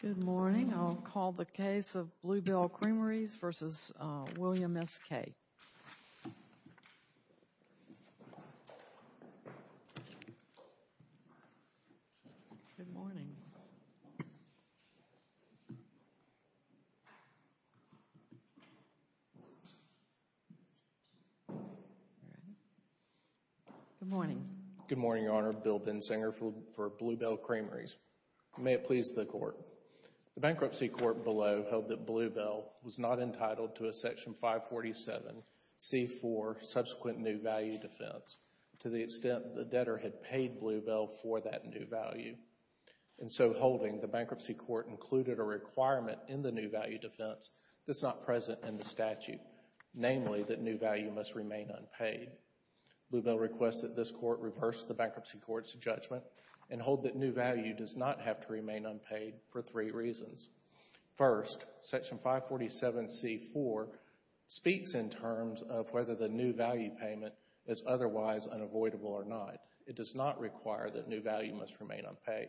Good morning, I'll call the case of Blue Bell Creameries v. William S. Kaye. Good morning. Good morning, Your Honor. Bill Bensinger for Blue Bell Creameries. May it please the Court. The bankruptcy court below held that Blue Bell was not entitled to a new value defense to the extent the debtor had paid Blue Bell for that new value. And so holding, the bankruptcy court included a requirement in the new value defense that's not present in the statute, namely that new value must remain unpaid. Blue Bell requests that this court reverse the bankruptcy court's judgment and hold that new value does not have to remain unpaid for three reasons. First, Section 547C-4 speaks in terms of whether the new value payment is otherwise unavoidable or not. It does not require that new value must remain unpaid.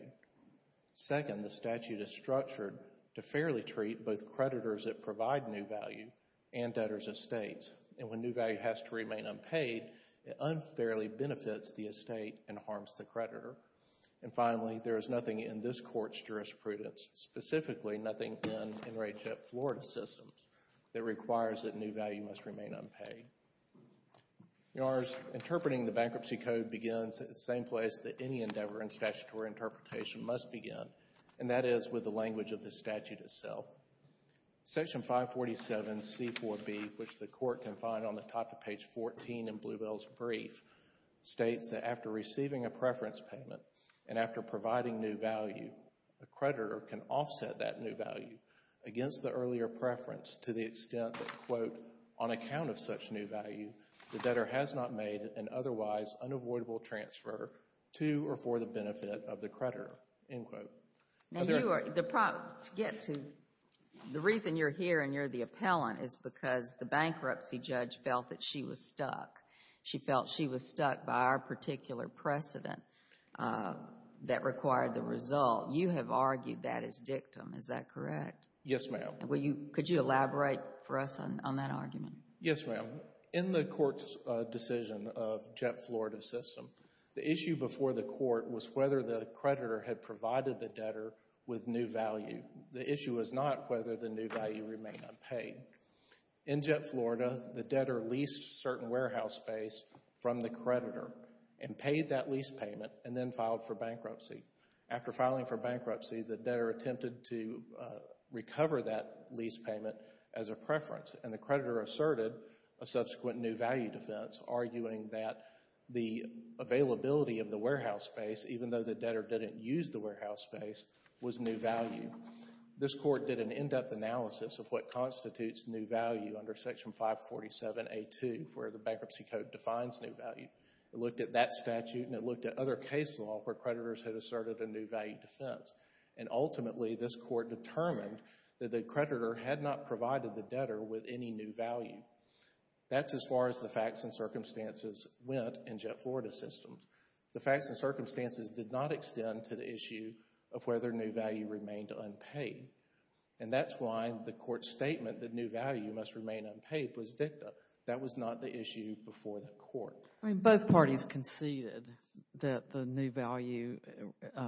Second, the statute is structured to fairly treat both creditors that provide new value and debtors' estates. And when new value has to remain unpaid, it unfairly benefits the estate and harms the creditor. And finally, there is nothing in this court's jurisprudence, specifically nothing in NRAJIP Florida systems, that requires that new value must remain unpaid. In other words, interpreting the bankruptcy code begins at the same place that any endeavor in statutory interpretation must begin, and that is with the language of the statute itself. Section 547C-4B, which the court can find on the top of page 14 in Blue Bell's brief, states that after receiving a preference payment and after providing new value, the creditor can offset that new value against the earlier preference to the extent that, quote, on account of such new value, the debtor has not made an otherwise unavoidable transfer to or for the benefit of the creditor, end quote. Now, you are, to get to, the reason you're here and you're the appellant is because the bankruptcy judge felt that she was stuck. She felt she was stuck by our particular precedent that required the result. You have argued that as dictum, is that correct? Yes, ma'am. Will you, could you elaborate for us on that argument? Yes, ma'am. In the court's decision of Jet Florida system, the issue before the court was whether the creditor had provided the debtor with new value. The issue was not whether the new value remained unpaid. In Jet Florida, the debtor leased certain warehouse space from the creditor and paid that lease payment and then filed for bankruptcy. After filing for bankruptcy, the debtor attempted to recover that lease payment as a preference and the creditor asserted a subsequent new value defense, arguing that the availability of the warehouse space, even though the debtor didn't use the warehouse space, was new value. This court did an in-depth analysis of what constitutes new value under Section 547A2, where the Bankruptcy Code defines new value. It looked at that statute and it looked at another case law where creditors had asserted a new value defense. And ultimately, this court determined that the creditor had not provided the debtor with any new value. That's as far as the facts and circumstances went in Jet Florida systems. The facts and circumstances did not extend to the issue of whether new value remained unpaid. And that's why the court's statement that new value must remain unpaid was dictum. That was not the issue before the court. Both parties conceded that the new value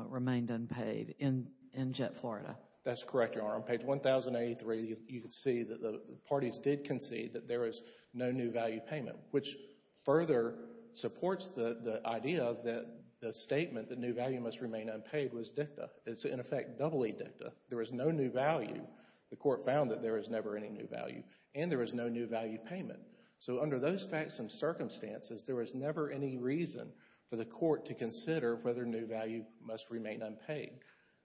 remained unpaid in Jet Florida. That's correct, Your Honor. On page 1083, you can see that the parties did concede that there is no new value payment, which further supports the idea that the statement that new value must remain unpaid was dictum. It's, in effect, doubly dictum. There is no new value. The court found that there is never any new value and there is no new value payment. So under those facts and circumstances, there was never any reason for the court to consider whether new value must remain unpaid.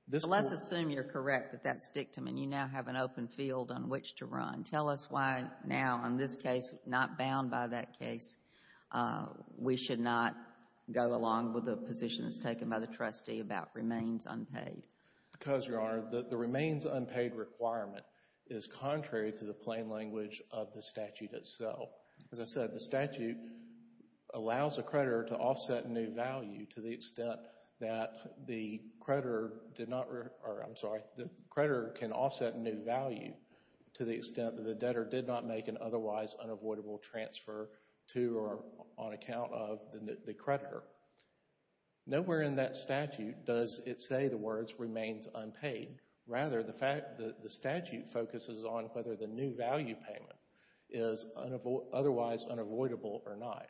But let's assume you're correct that that's dictum and you now have an open field on which to run. Tell us why now, in this case, not bound by that case, we should not go along with the positions taken by the trustee about remains unpaid. Because, Your Honor, the remains unpaid requirement is contrary to the plain language of the statute itself. As I said, the statute allows a creditor to offset new value to the extent that the creditor did not, or I'm sorry, the creditor can offset new value to the extent that the debtor did not make an otherwise unavoidable transfer to or on account of the creditor. Nowhere in that statute does it say the words remains unpaid. Rather, the fact that the creditor did not make an otherwise unavoidable or not.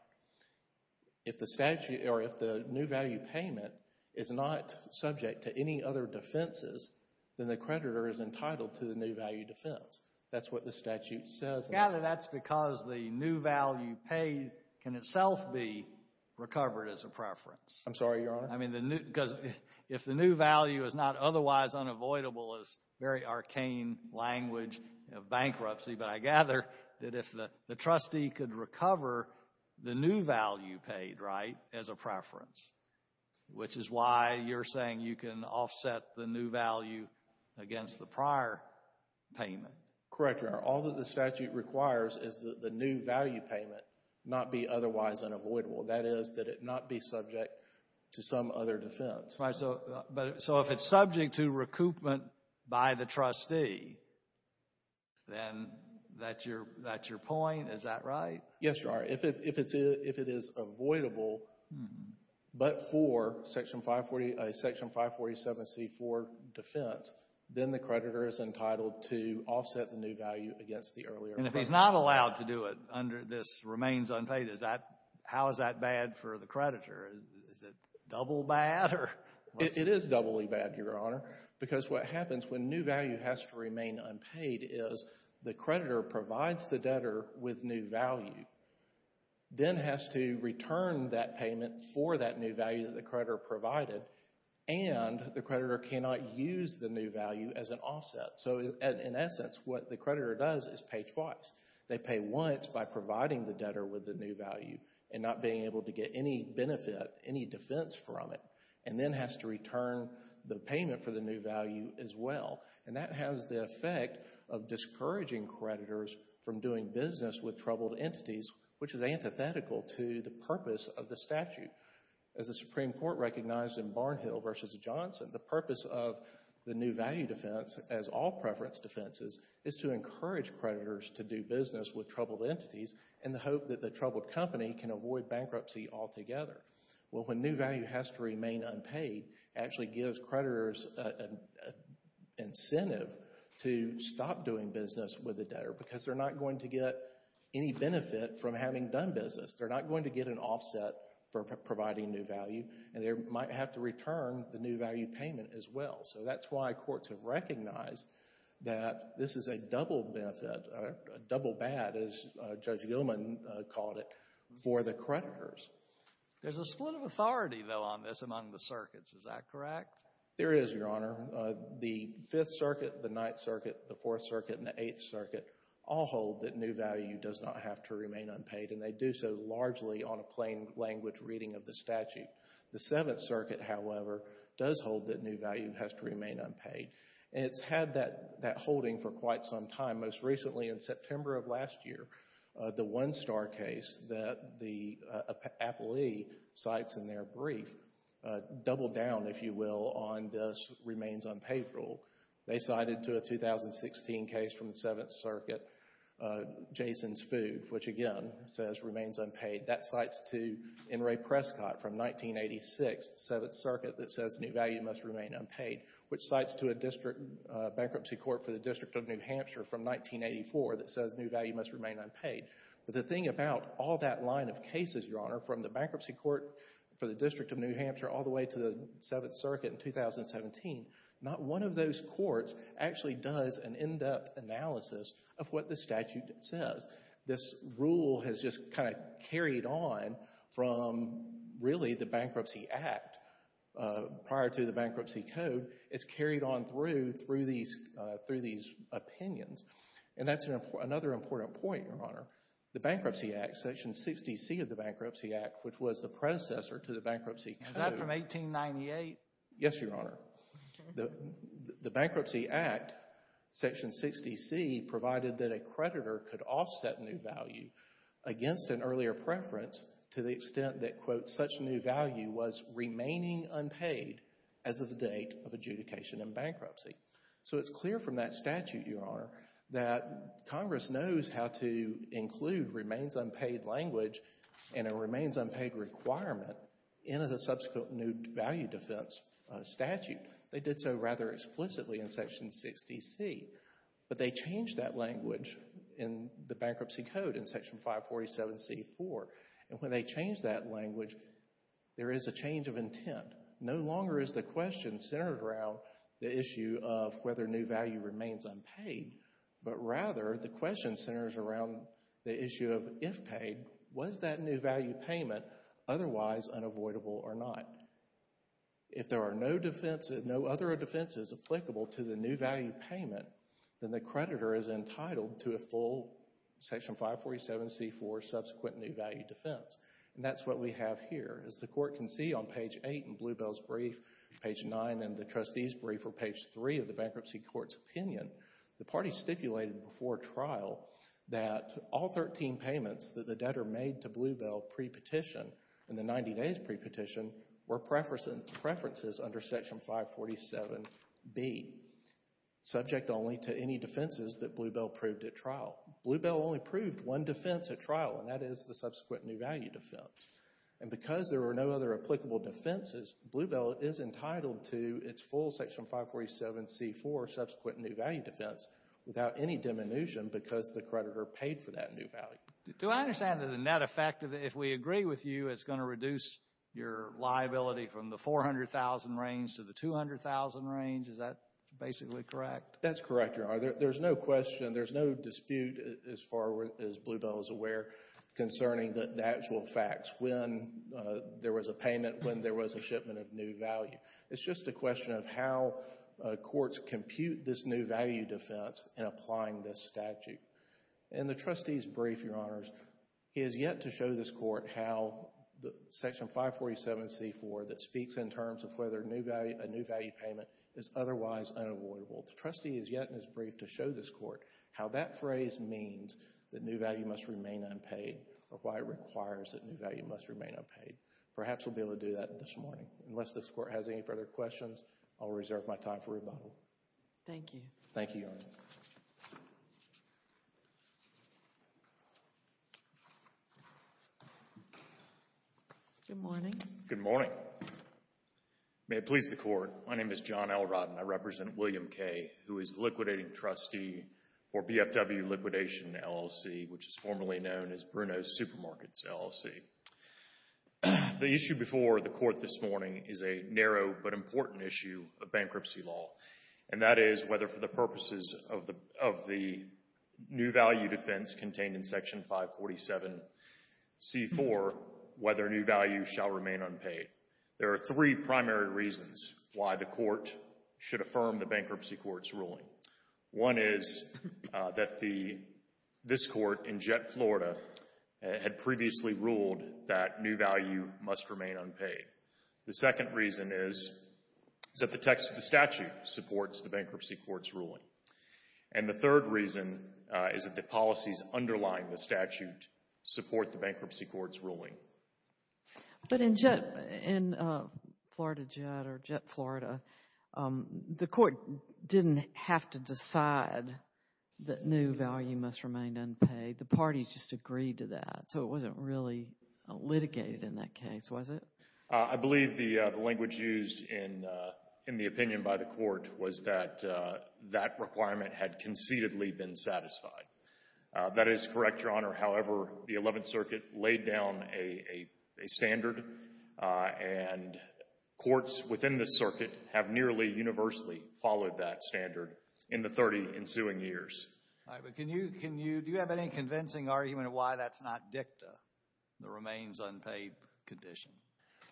If the statute or if the new value payment is not subject to any other defenses, then the creditor is entitled to the new value defense. That's what the statute says. I gather that's because the new value paid can itself be recovered as a preference. I'm sorry, Your Honor. I mean, because if the new value is not otherwise unavoidable is very arcane language of bankruptcy. But I gather that if the trustee could recover the new value paid, right, as a preference, which is why you're saying you can offset the new value against the prior payment. Correct, Your Honor. All that the statute requires is that the new value payment not be otherwise unavoidable. That is, that it not be subject to some other defense. So if it's subject to recoupment by the trustee, then that's your point. Is that right? Yes, Your Honor. If it is avoidable but for Section 547C, for defense, then the creditor is entitled to offset the new value against the earlier. And if he's not allowed to do it under this remains unpaid, is that, how is that bad for the creditor? Is it double bad? It is doubly bad, Your Honor, because what happens when new value has to remain unpaid is the creditor provides the debtor with new value, then has to return that payment for that new value that the creditor provided, and the creditor cannot use the new value as an offset. So in essence, what the creditor does is pay twice. They pay once by providing the debtor with the new value and not being able to get any benefit, any defense from it, and then has to return the payment for the new value as well. And that has the effect of discouraging creditors from doing business with troubled entities, which is antithetical to the purpose of the statute. As the Supreme Court recognized in Barnhill v. Johnson, the purpose of the new value defense as all preference defenses is to encourage creditors to do business with troubled entities in the hope that the troubled company can avoid bankruptcy altogether. Well, when new value has to remain unpaid, it actually gives creditors an incentive to stop doing business with the debtor because they're not going to get any benefit from having done business. They're not going to get an offset for providing new value, and they might have to return the new value payment as well. So that's why courts have recognized that this is a double benefit, a double bad, as Judge Gilman called it, for the creditors. There's a split of authority, though, on this among the circuits. Is that correct? There is, Your Honor. The Fifth Circuit, the Ninth Circuit, the Fourth Circuit, and the Eighth Circuit all hold that new value does not have to remain unpaid, and they do so largely on a plain language reading of the statute. The Seventh Circuit, however, does hold that new value has to remain unpaid. And it's had that holding for quite some time. Most recently, in September of last year, the one-star case that the appellee cites in their brief doubled down, if you will, on this remains unpaid rule. They cited to a 2016 case from the Seventh Circuit, Jason's Food, which again says remains unpaid. That cites to N. Ray Prescott from 1986, the Seventh Circuit, that says new value must remain unpaid, which cites to a bankruptcy court for the District of New Hampshire from 1984 that says new value must remain unpaid. But the thing about all that line of cases, Your Honor, from the bankruptcy court for the District of New Hampshire all the way to the Seventh Circuit in 2017, not one of those courts actually does an in-depth analysis of what the statute says. This rule has just kind of carried on from really the Bankruptcy Act prior to the bankruptcy. It's carried on through these opinions. And that's another important point, Your Honor. The Bankruptcy Act, Section 60C of the Bankruptcy Act, which was the predecessor to the Bankruptcy Code. Is that from 1898? Yes, Your Honor. The Bankruptcy Act, Section 60C, provided that a creditor could offset new value against an earlier preference to the extent that, such new value was remaining unpaid as of the date of adjudication in bankruptcy. So it's clear from that statute, Your Honor, that Congress knows how to include remains unpaid language and a remains unpaid requirement in a subsequent new value defense statute. They did so rather explicitly in Section 60C. But they changed that language in the Bankruptcy Code in Section 547C-4. And when they changed that language, there is a change of intent. No longer is the question centered around the issue of whether new value remains unpaid, but rather the question centers around the issue of if paid, was that new value payment otherwise unavoidable or not? If there are no other defenses applicable to the new value payment, then the creditor is subsequent new value defense. And that's what we have here. As the Court can see on page 8 in Bluebell's brief, page 9 in the Trustee's brief, or page 3 of the Bankruptcy Court's opinion, the party stipulated before trial that all 13 payments that the debtor made to Bluebell pre-petition, in the 90 days pre-petition, were preferences under Section 547B, subject only to any defenses that Bluebell proved at trial. Bluebell only proved one defense at trial, and that is the subsequent new value defense. And because there are no other applicable defenses, Bluebell is entitled to its full Section 547C-4 subsequent new value defense without any diminution because the creditor paid for that new value. Do I understand that the net effect, if we agree with you, it's going to reduce your liability from the 400,000 range to the 200,000 range? Is that basically correct? That's correct, Your Honor. There's no question, there's no dispute as far as Bluebell is aware concerning the actual facts when there was a payment, when there was a shipment of new value. It's just a question of how courts compute this new value defense in applying this statute. In the Trustee's brief, Your Honors, he has yet to show this Court how the Section 547C-4 that speaks in terms of whether a new value payment is otherwise unavoidable. The Trustee has yet in his brief to show this Court how that phrase means that new value must remain unpaid or why it requires that new value must remain unpaid. Perhaps we'll be able to do that this morning. Unless this Court has any further questions, I'll reserve my time for rebuttal. Thank you. Thank you, Your Honor. Good morning. Good morning. May it please the Court, my name is John L. Rodden. I represent William Kay, who is liquidating trustee for BFW Liquidation LLC, which is formerly known as Bruno's Supermarkets LLC. The issue before the Court this morning is a narrow but important issue of and that is whether for the purposes of the new value defense contained in Section 547C-4, whether new value shall remain unpaid. There are three primary reasons why the Court should affirm the Bankruptcy Court's ruling. One is that this Court in Jett, Florida, had previously ruled that new value must remain unpaid. The second reason is that the text of the statute supports the Bankruptcy Court's ruling. And the third reason is that the policies underlying the statute support the Bankruptcy Court's ruling. But in Jett, in Florida Jett or Jett, Florida, the Court didn't have to decide that new value must remain unpaid. The parties just agreed to that. So it wasn't really litigated in that case, was it? I believe the language used in the opinion by the Court was that that requirement had concededly been satisfied. That is correct, Your Honor. However, the Eleventh Circuit laid down a standard and courts within the Circuit have nearly universally followed that standard in the 30 ensuing years. All right, but can you, do you have any convincing argument why that's not dicta, the remains unpaid condition?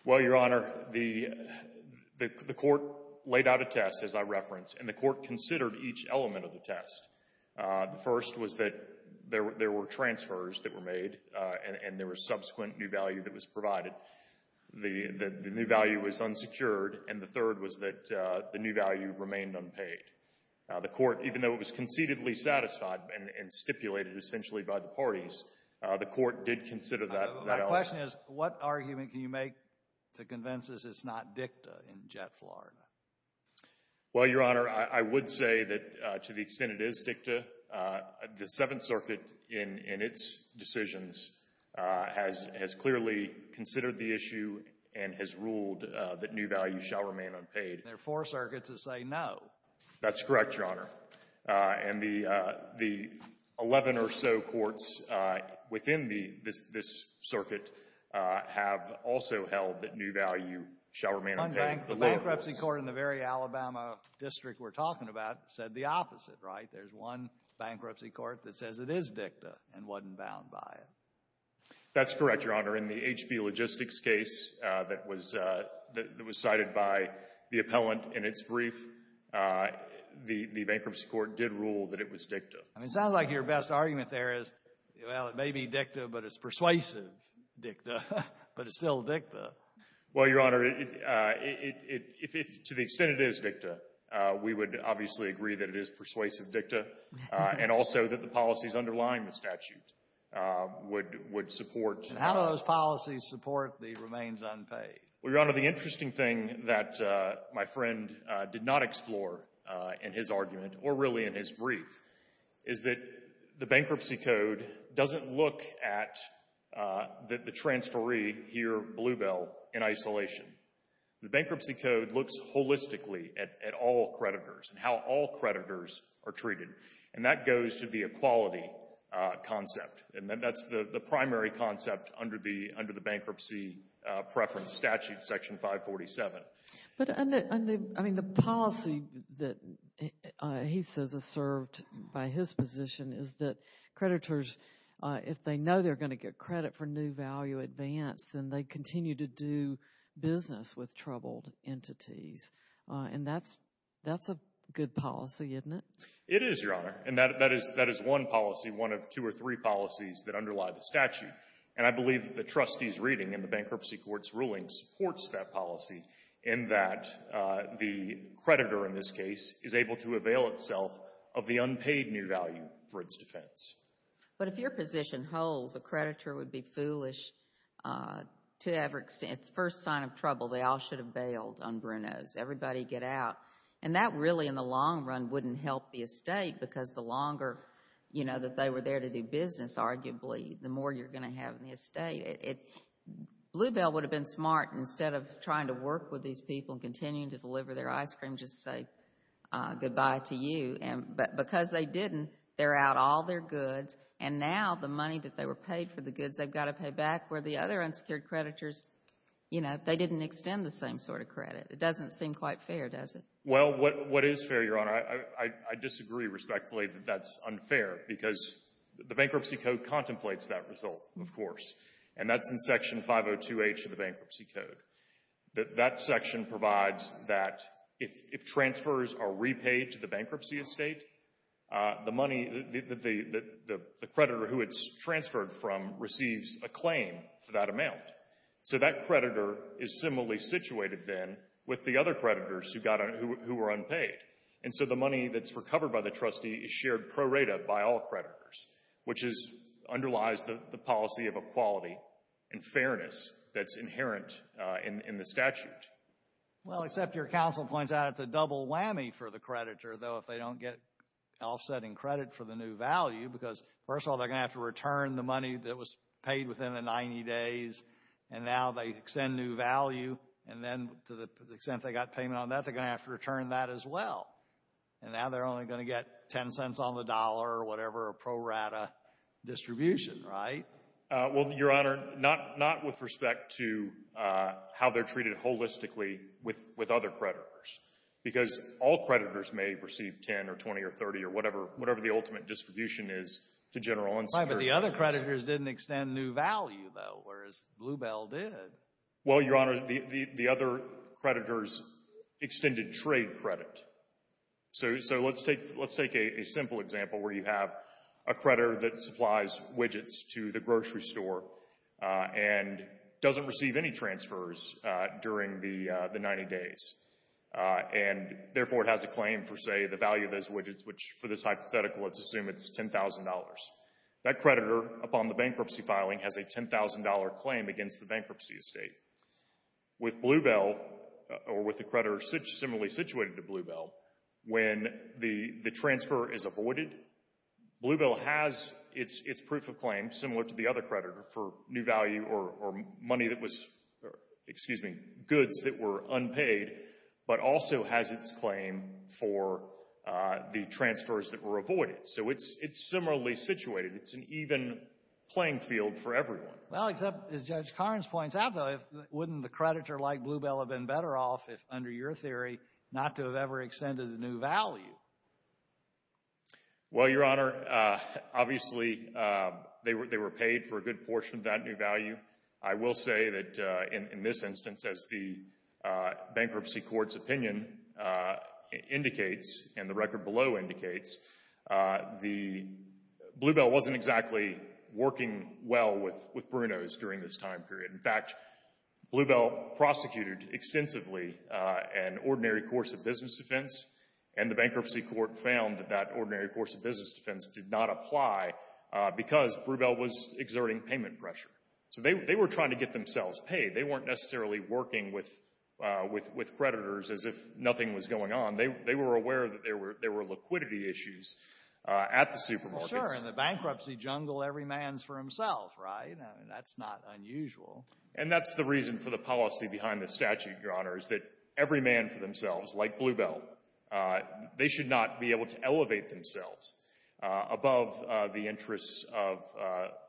Well, Your Honor, the Court laid out a test, as I referenced, and the Court considered each element of the test. The first was that there were transfers that were made and there was subsequent new value that was provided. The new value was unsecured, and the third was that the new value remained unpaid. The Court, even though it was concededly satisfied and stipulated essentially by the parties, the Court did consider that. My question is what argument can you make to convince us it's not dicta in Jett, Florida? Well, Your Honor, I would say that to the extent it is dicta, the Seventh Circuit in its decisions has clearly considered the issue and has ruled that new value shall remain unpaid. There are four circuits that say no. That's correct, Your Honor. And the 11 or so courts within this Circuit have also held that new value shall remain unpaid. The bankruptcy court in the very Alabama district we're talking about said the opposite, right? There's one bankruptcy court that says it is dicta and wasn't bound by it. That's correct, Your Honor. In the HB Logistics case that was cited by the appellant in its brief, the bankruptcy court did rule that it was dicta. I mean, it sounds like your best argument there is, well, it may be dicta, but it's persuasive dicta, but it's still dicta. Well, Your Honor, to the extent it is dicta, we would obviously agree that it is persuasive dicta and also that the policies underlying the statute would support. And how do those policies support the remains unpaid? Well, Your Honor, the interesting thing that my friend did not explore in his argument or really in his brief is that the bankruptcy code doesn't look at the transferee here, Bluebell, in isolation. The bankruptcy code looks holistically at all creditors and how all creditors are treated, and that goes to the equality concept, and that's the primary concept under the bankruptcy preference statute, Section 547. But, I mean, the policy that he says is served by his position is that creditors, if they know they're going to get credit for new value advance, then they continue to do business with troubled entities, and that's a good policy, isn't it? It is, Your Honor, and that is one policy, one of two or three policies that underlie the statute, and I believe that the trustee's reading in the bankruptcy court's ruling supports that policy in that the creditor in this case is able to avail itself of the unpaid new value for its defense. But if your position holds a creditor would be foolish to every extent. First sign of trouble, they all should have bailed on Brunos. Everybody get out, and that really in the long run wouldn't help the estate because the longer, you know, that they were there to do business, arguably, the more you're going to have in the estate. Bluebell would have been smart instead of trying to work with these people and continuing to deliver their ice cream, just say goodbye to you, and because they didn't, they're out all their goods, and now the money that they were paid for the goods they've got to pay back where the other unsecured creditors, you know, they didn't extend the same sort of credit. It doesn't seem quite fair, does it? Well, what is fair, Your Honor? I disagree respectfully that that's unfair because the Bankruptcy Code contemplates that result, of course, and that's in Section 502H of the Bankruptcy Code. That section provides that if transfers are repaid to the bankruptcy estate, the money that the creditor who it's transferred from receives a claim for that amount. So that creditor is similarly situated, then, with the other creditors who got on, who were unpaid, and so the money that's recovered by the trustee is shared pro rata by all creditors, which is underlies the policy of equality and fairness that's inherent in the statute. Well, except your counsel points out it's a double whammy for the creditor, though, if they don't get offsetting credit for the new value because, first of all, they're going to have to return the money that was paid within the 90 days, and now they extend new value, and then to the extent they got payment on that, they're going to have to return that as well, and now they're only going to get 10 cents on the dollar or whatever pro rata distribution, right? Well, Your Honor, not with respect to how they're treated holistically with other creditors because all creditors may receive 10 or 20 or 30 or whatever the ultimate distribution is to general insurers. Right, but the other creditors didn't extend new value, though, whereas Bluebell did. Well, Your Honor, the other creditors extended trade credit. So let's take a simple example where you have a creditor that supplies widgets to the grocery store and doesn't receive any transfers during the 90 days, and therefore it has a claim for, say, the value of those widgets, which for this hypothetical, let's assume it's $10,000. That creditor, upon the bankruptcy filing, has a $10,000 claim against the bankruptcy estate. With Bluebell, or with a creditor similarly situated to Bluebell, when the transfer is for new value or money that was, excuse me, goods that were unpaid, but also has its claim for the transfers that were avoided. So it's similarly situated. It's an even playing field for everyone. Well, except, as Judge Carnes points out, though, wouldn't the creditor like Bluebell have been better off if, under your theory, not to have ever extended the new value? Well, Your Honor, obviously, they were paid for a good portion of that new value. I will say that, in this instance, as the bankruptcy court's opinion indicates, and the record below indicates, Bluebell wasn't exactly working well with Bruno's during this time period. In fact, Bluebell prosecuted extensively an ordinary course of business defense, and the bankruptcy court found that that ordinary course of business defense did not apply because Bluebell was exerting payment pressure. So they were trying to get themselves paid. They weren't necessarily working with creditors as if nothing was going on. They were aware that there were liquidity issues at the supermarkets. Well, sure, in the bankruptcy jungle, every man's for himself, right? I mean, that's not unusual. And that's the reason for the policy behind the statute, Your Honor, is that every man for themselves, like Bluebell, they should not be able to elevate themselves above the interests of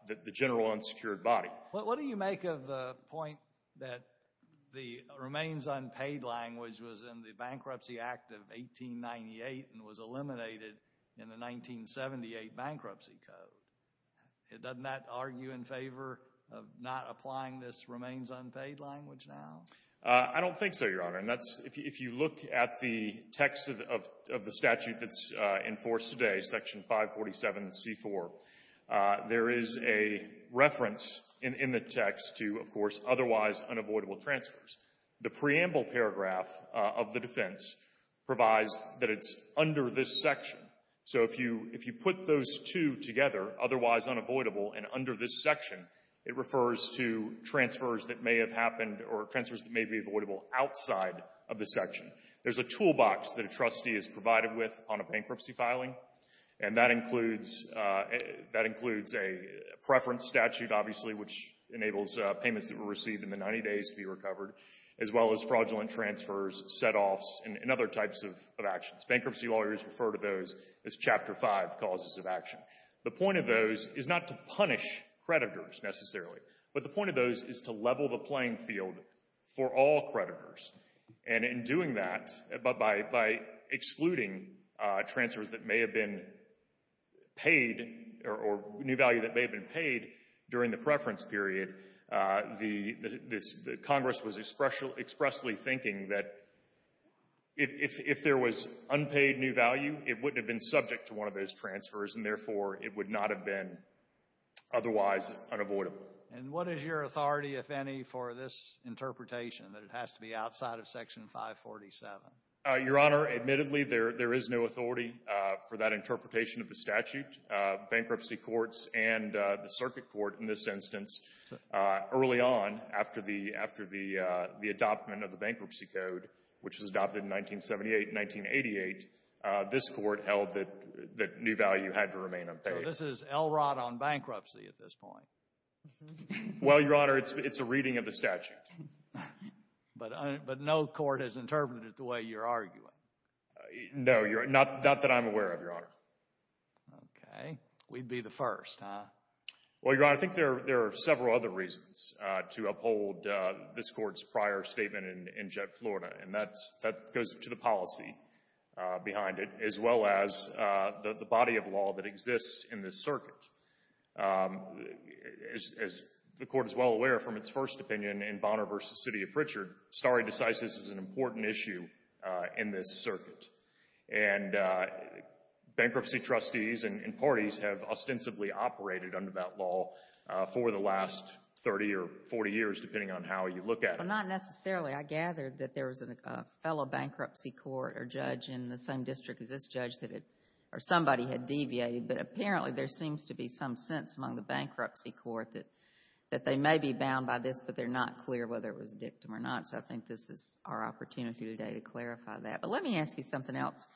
the general unsecured body. What do you make of the point that the remains unpaid language was in the Bankruptcy Act of 1898 and was eliminated in the 1978 Bankruptcy Code? Doesn't that argue in favor of not applying this remains unpaid language now? I don't think so, Your Honor. And that's — if you look at the text of the statute that's enforced today, Section 547C4, there is a reference in the text to, of course, otherwise unavoidable transfers. The preamble paragraph of the defense provides that it's under this section. So if you put those two together, otherwise unavoidable and under this section, it refers to transfers that may have happened or transfers that may be avoidable outside of the section. There's a toolbox that a trustee is provided with on a bankruptcy filing, and that includes — that includes a preference statute, obviously, which enables payments that were received in the 90 days to be recovered, as well as fraudulent transfers, setoffs, and other types of actions. Bankruptcy lawyers refer to those as Chapter 5 causes of action. The point of those is not to punish creditors necessarily, but the point of those is to level the playing field for all creditors. And in doing that, by excluding transfers that may have been paid or new value that may have been paid during the preference period, the Congress was expressly thinking that if there was unpaid new value, it wouldn't have been subject to one of those transfers, and therefore, it would not have been otherwise unavoidable. And what is your authority, if any, for this interpretation, that it has to be outside of Section 547? Your Honor, admittedly, there is no authority for that interpretation of the statute. Bankruptcy courts and the circuit court, in this instance, early on after the — after the This is Elrod on bankruptcy at this point. Well, Your Honor, it's a reading of the statute. But no court has interpreted it the way you're arguing. No, not that I'm aware of, Your Honor. Okay. We'd be the first, huh? Well, Your Honor, I think there are several other reasons to uphold this Court's prior statement in Florida, and that goes to the policy behind it, as well as the body of law that exists in this circuit. As the Court is well aware from its first opinion in Bonner v. City of Pritchard, Starry decides this is an important issue in this circuit. And bankruptcy trustees and parties have ostensibly operated under that law for the last 30 or 40 years, depending on how you look at it. Well, not necessarily. I gathered that there was a fellow bankruptcy court or judge in the same district as this judge or somebody had deviated. But apparently, there seems to be some sense among the bankruptcy court that they may be bound by this, but they're not clear whether it was a dictum or not. So I think this is our opportunity today to clarify that. But let me ask you something else.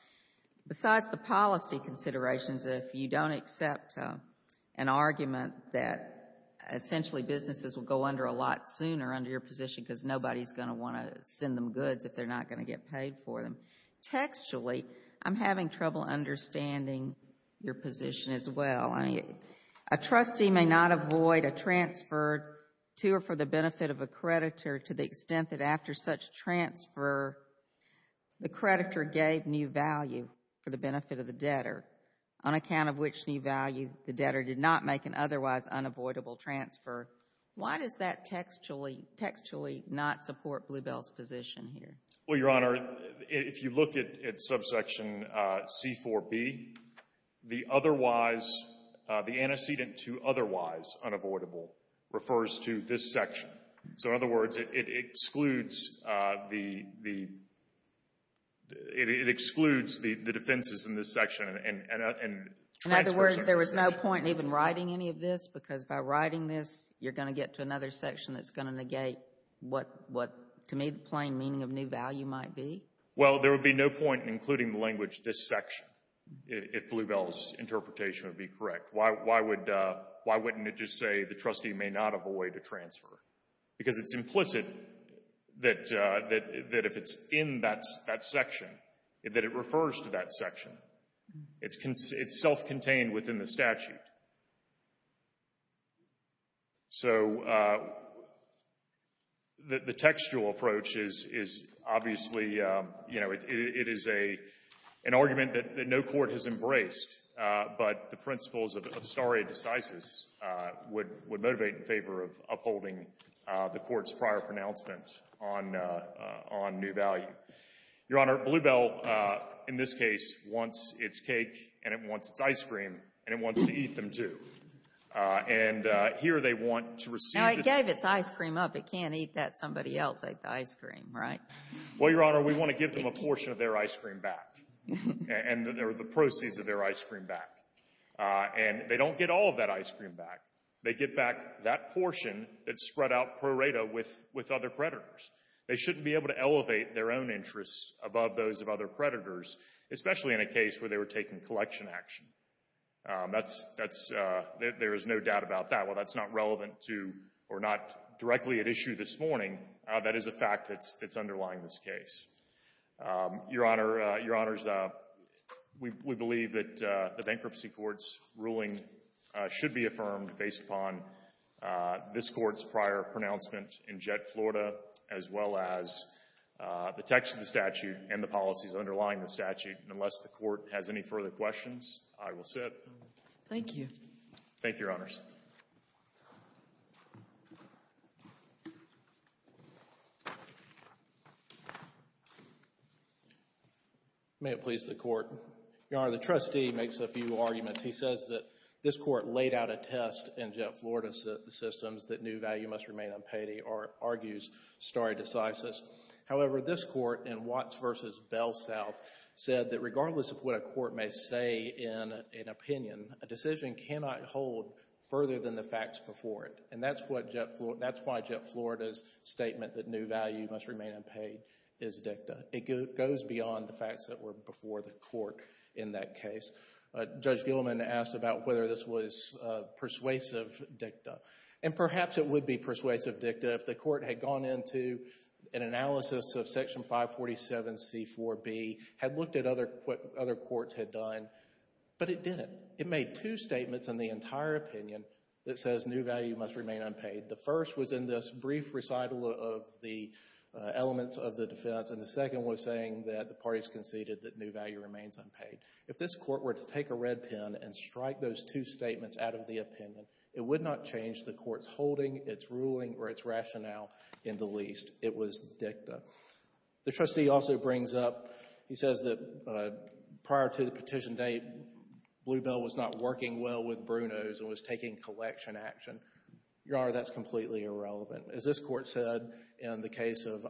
Besides the policy considerations, if you don't accept an argument that essentially businesses will go under a lot sooner under your position because nobody's going to want to send them goods if they're not going to get paid for them, textually, I'm having trouble understanding your position as well. A trustee may not avoid a transfer to or for the benefit of a creditor to the extent that after such transfer, the creditor gave new value for the benefit of the debtor, on account of which new value the debtor did not make an otherwise unavoidable transfer. Why does that textually not support Bluebell's position here? Well, Your Honor, if you look at subsection C-4B, the otherwise, the antecedent to otherwise unavoidable refers to this section. So in other words, it excludes the defenses in this section. In other words, there was no point in even writing any of this because by writing this, you're going to get to another section that's going to negate what, to me, plain meaning of new value might be. Well, there would be no point in including the language, this section, if Bluebell's interpretation would be correct. Why wouldn't it just say the trustee may not avoid a transfer? Because it's implicit that if it's in that section, that it refers to that section. It's self-contained within the statute. So the textual approach is obviously, you know, it is an argument that no court has embraced, but the principles of stare decisis would motivate in favor of upholding the court's prior pronouncement on new value. Your Honor, Bluebell, in this case, wants its cake and it wants its ice cream and it wants to eat them, too. And here they want to receive it. Now, it gave its ice cream up. It can't eat that. Somebody else ate the ice cream, right? Well, Your Honor, we want to give them a portion of their ice cream back and the proceeds of their ice cream back. And they don't get all of that ice cream back. They get back that portion that's spread out pro rata with other creditors. They shouldn't be able to elevate their own interests above those of other creditors, especially in a case where they were taking collection action. That's — there is no doubt about that. While that's not relevant to or not directly at issue this morning, that is a fact that's underlying this case. Your Honor, Your Honors, we believe that the bankruptcy court's ruling should be affirmed based upon this court's prior pronouncement in Jett, Florida, as well as the text of the statute and the policies underlying the statute. Unless the court has any further questions, I will sit. Thank you. Thank you, Your Honors. May it please the Court. Your Honor, the trustee makes a few arguments. He says that this court laid out a test in Jett, Florida systems that new value must remain unpaid or argues stare decisis. However, this court in Watts v. Bell South said that regardless of what a court may say in an opinion, a decision cannot hold further than the facts before it. And that's what Jett — that's why Jett, Florida's statement that new value must remain unpaid is dicta. It goes beyond the facts that were before the court in that case. Judge Gilman asked about whether this was persuasive dicta. And perhaps it would be persuasive dicta if the court had gone into an analysis of Section 547c4b, had looked at what other courts had done, but it didn't. It made two statements in the entire opinion that says new value must remain unpaid. The first was in this brief recital of the elements of the defense. And the second was saying that the parties conceded that new value remains unpaid. If this court were to take a red pen and strike those two statements out of the opinion, it would not change the court's holding, its ruling, or its rationale in the least. It was dicta. The trustee also brings up — he says that prior to the petition date, Bluebell was not working well with Bruno's and was taking collection action. Your Honor, that's completely irrelevant. As this court said in the case of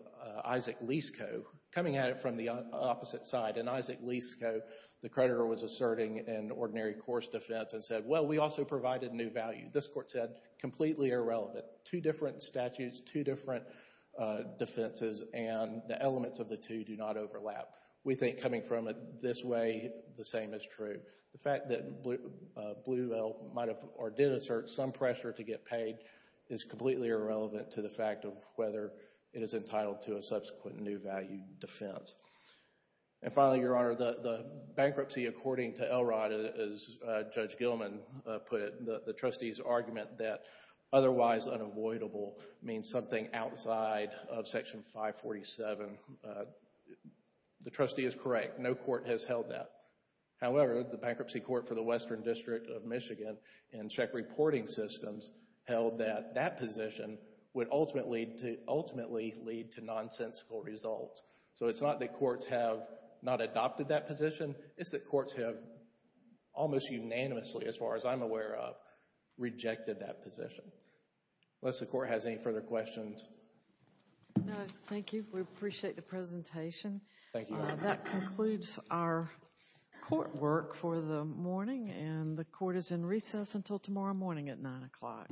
Isaac Lisco, coming at it from the opposite side. In Isaac Lisco, the creditor was asserting in ordinary course defense and said, well, we also provided new value. This court said, completely irrelevant. Two different statutes, two different defenses, and the elements of the two do not overlap. We think coming from it this way, the same is true. The fact that Bluebell might have or did assert some pressure to get paid is completely irrelevant to the fact of whether it is entitled to a subsequent new value defense. And finally, Your Honor, the bankruptcy, according to Elrod, as Judge Gilman put it, the trustee's argument that otherwise unavoidable means something outside of Section 547. The trustee is correct. No court has held that. However, the Bankruptcy Court for the Western District of Michigan and check reporting systems held that that position would ultimately lead to nonsensical results. So it's not that courts have not adopted that position. It's that courts have almost unanimously, as far as I'm aware of, rejected that position. Unless the court has any further questions. No, thank you. We appreciate the presentation. Thank you, Your Honor. That concludes our court work for the morning, and the court is in recess until tomorrow morning at 9 o'clock. All rise.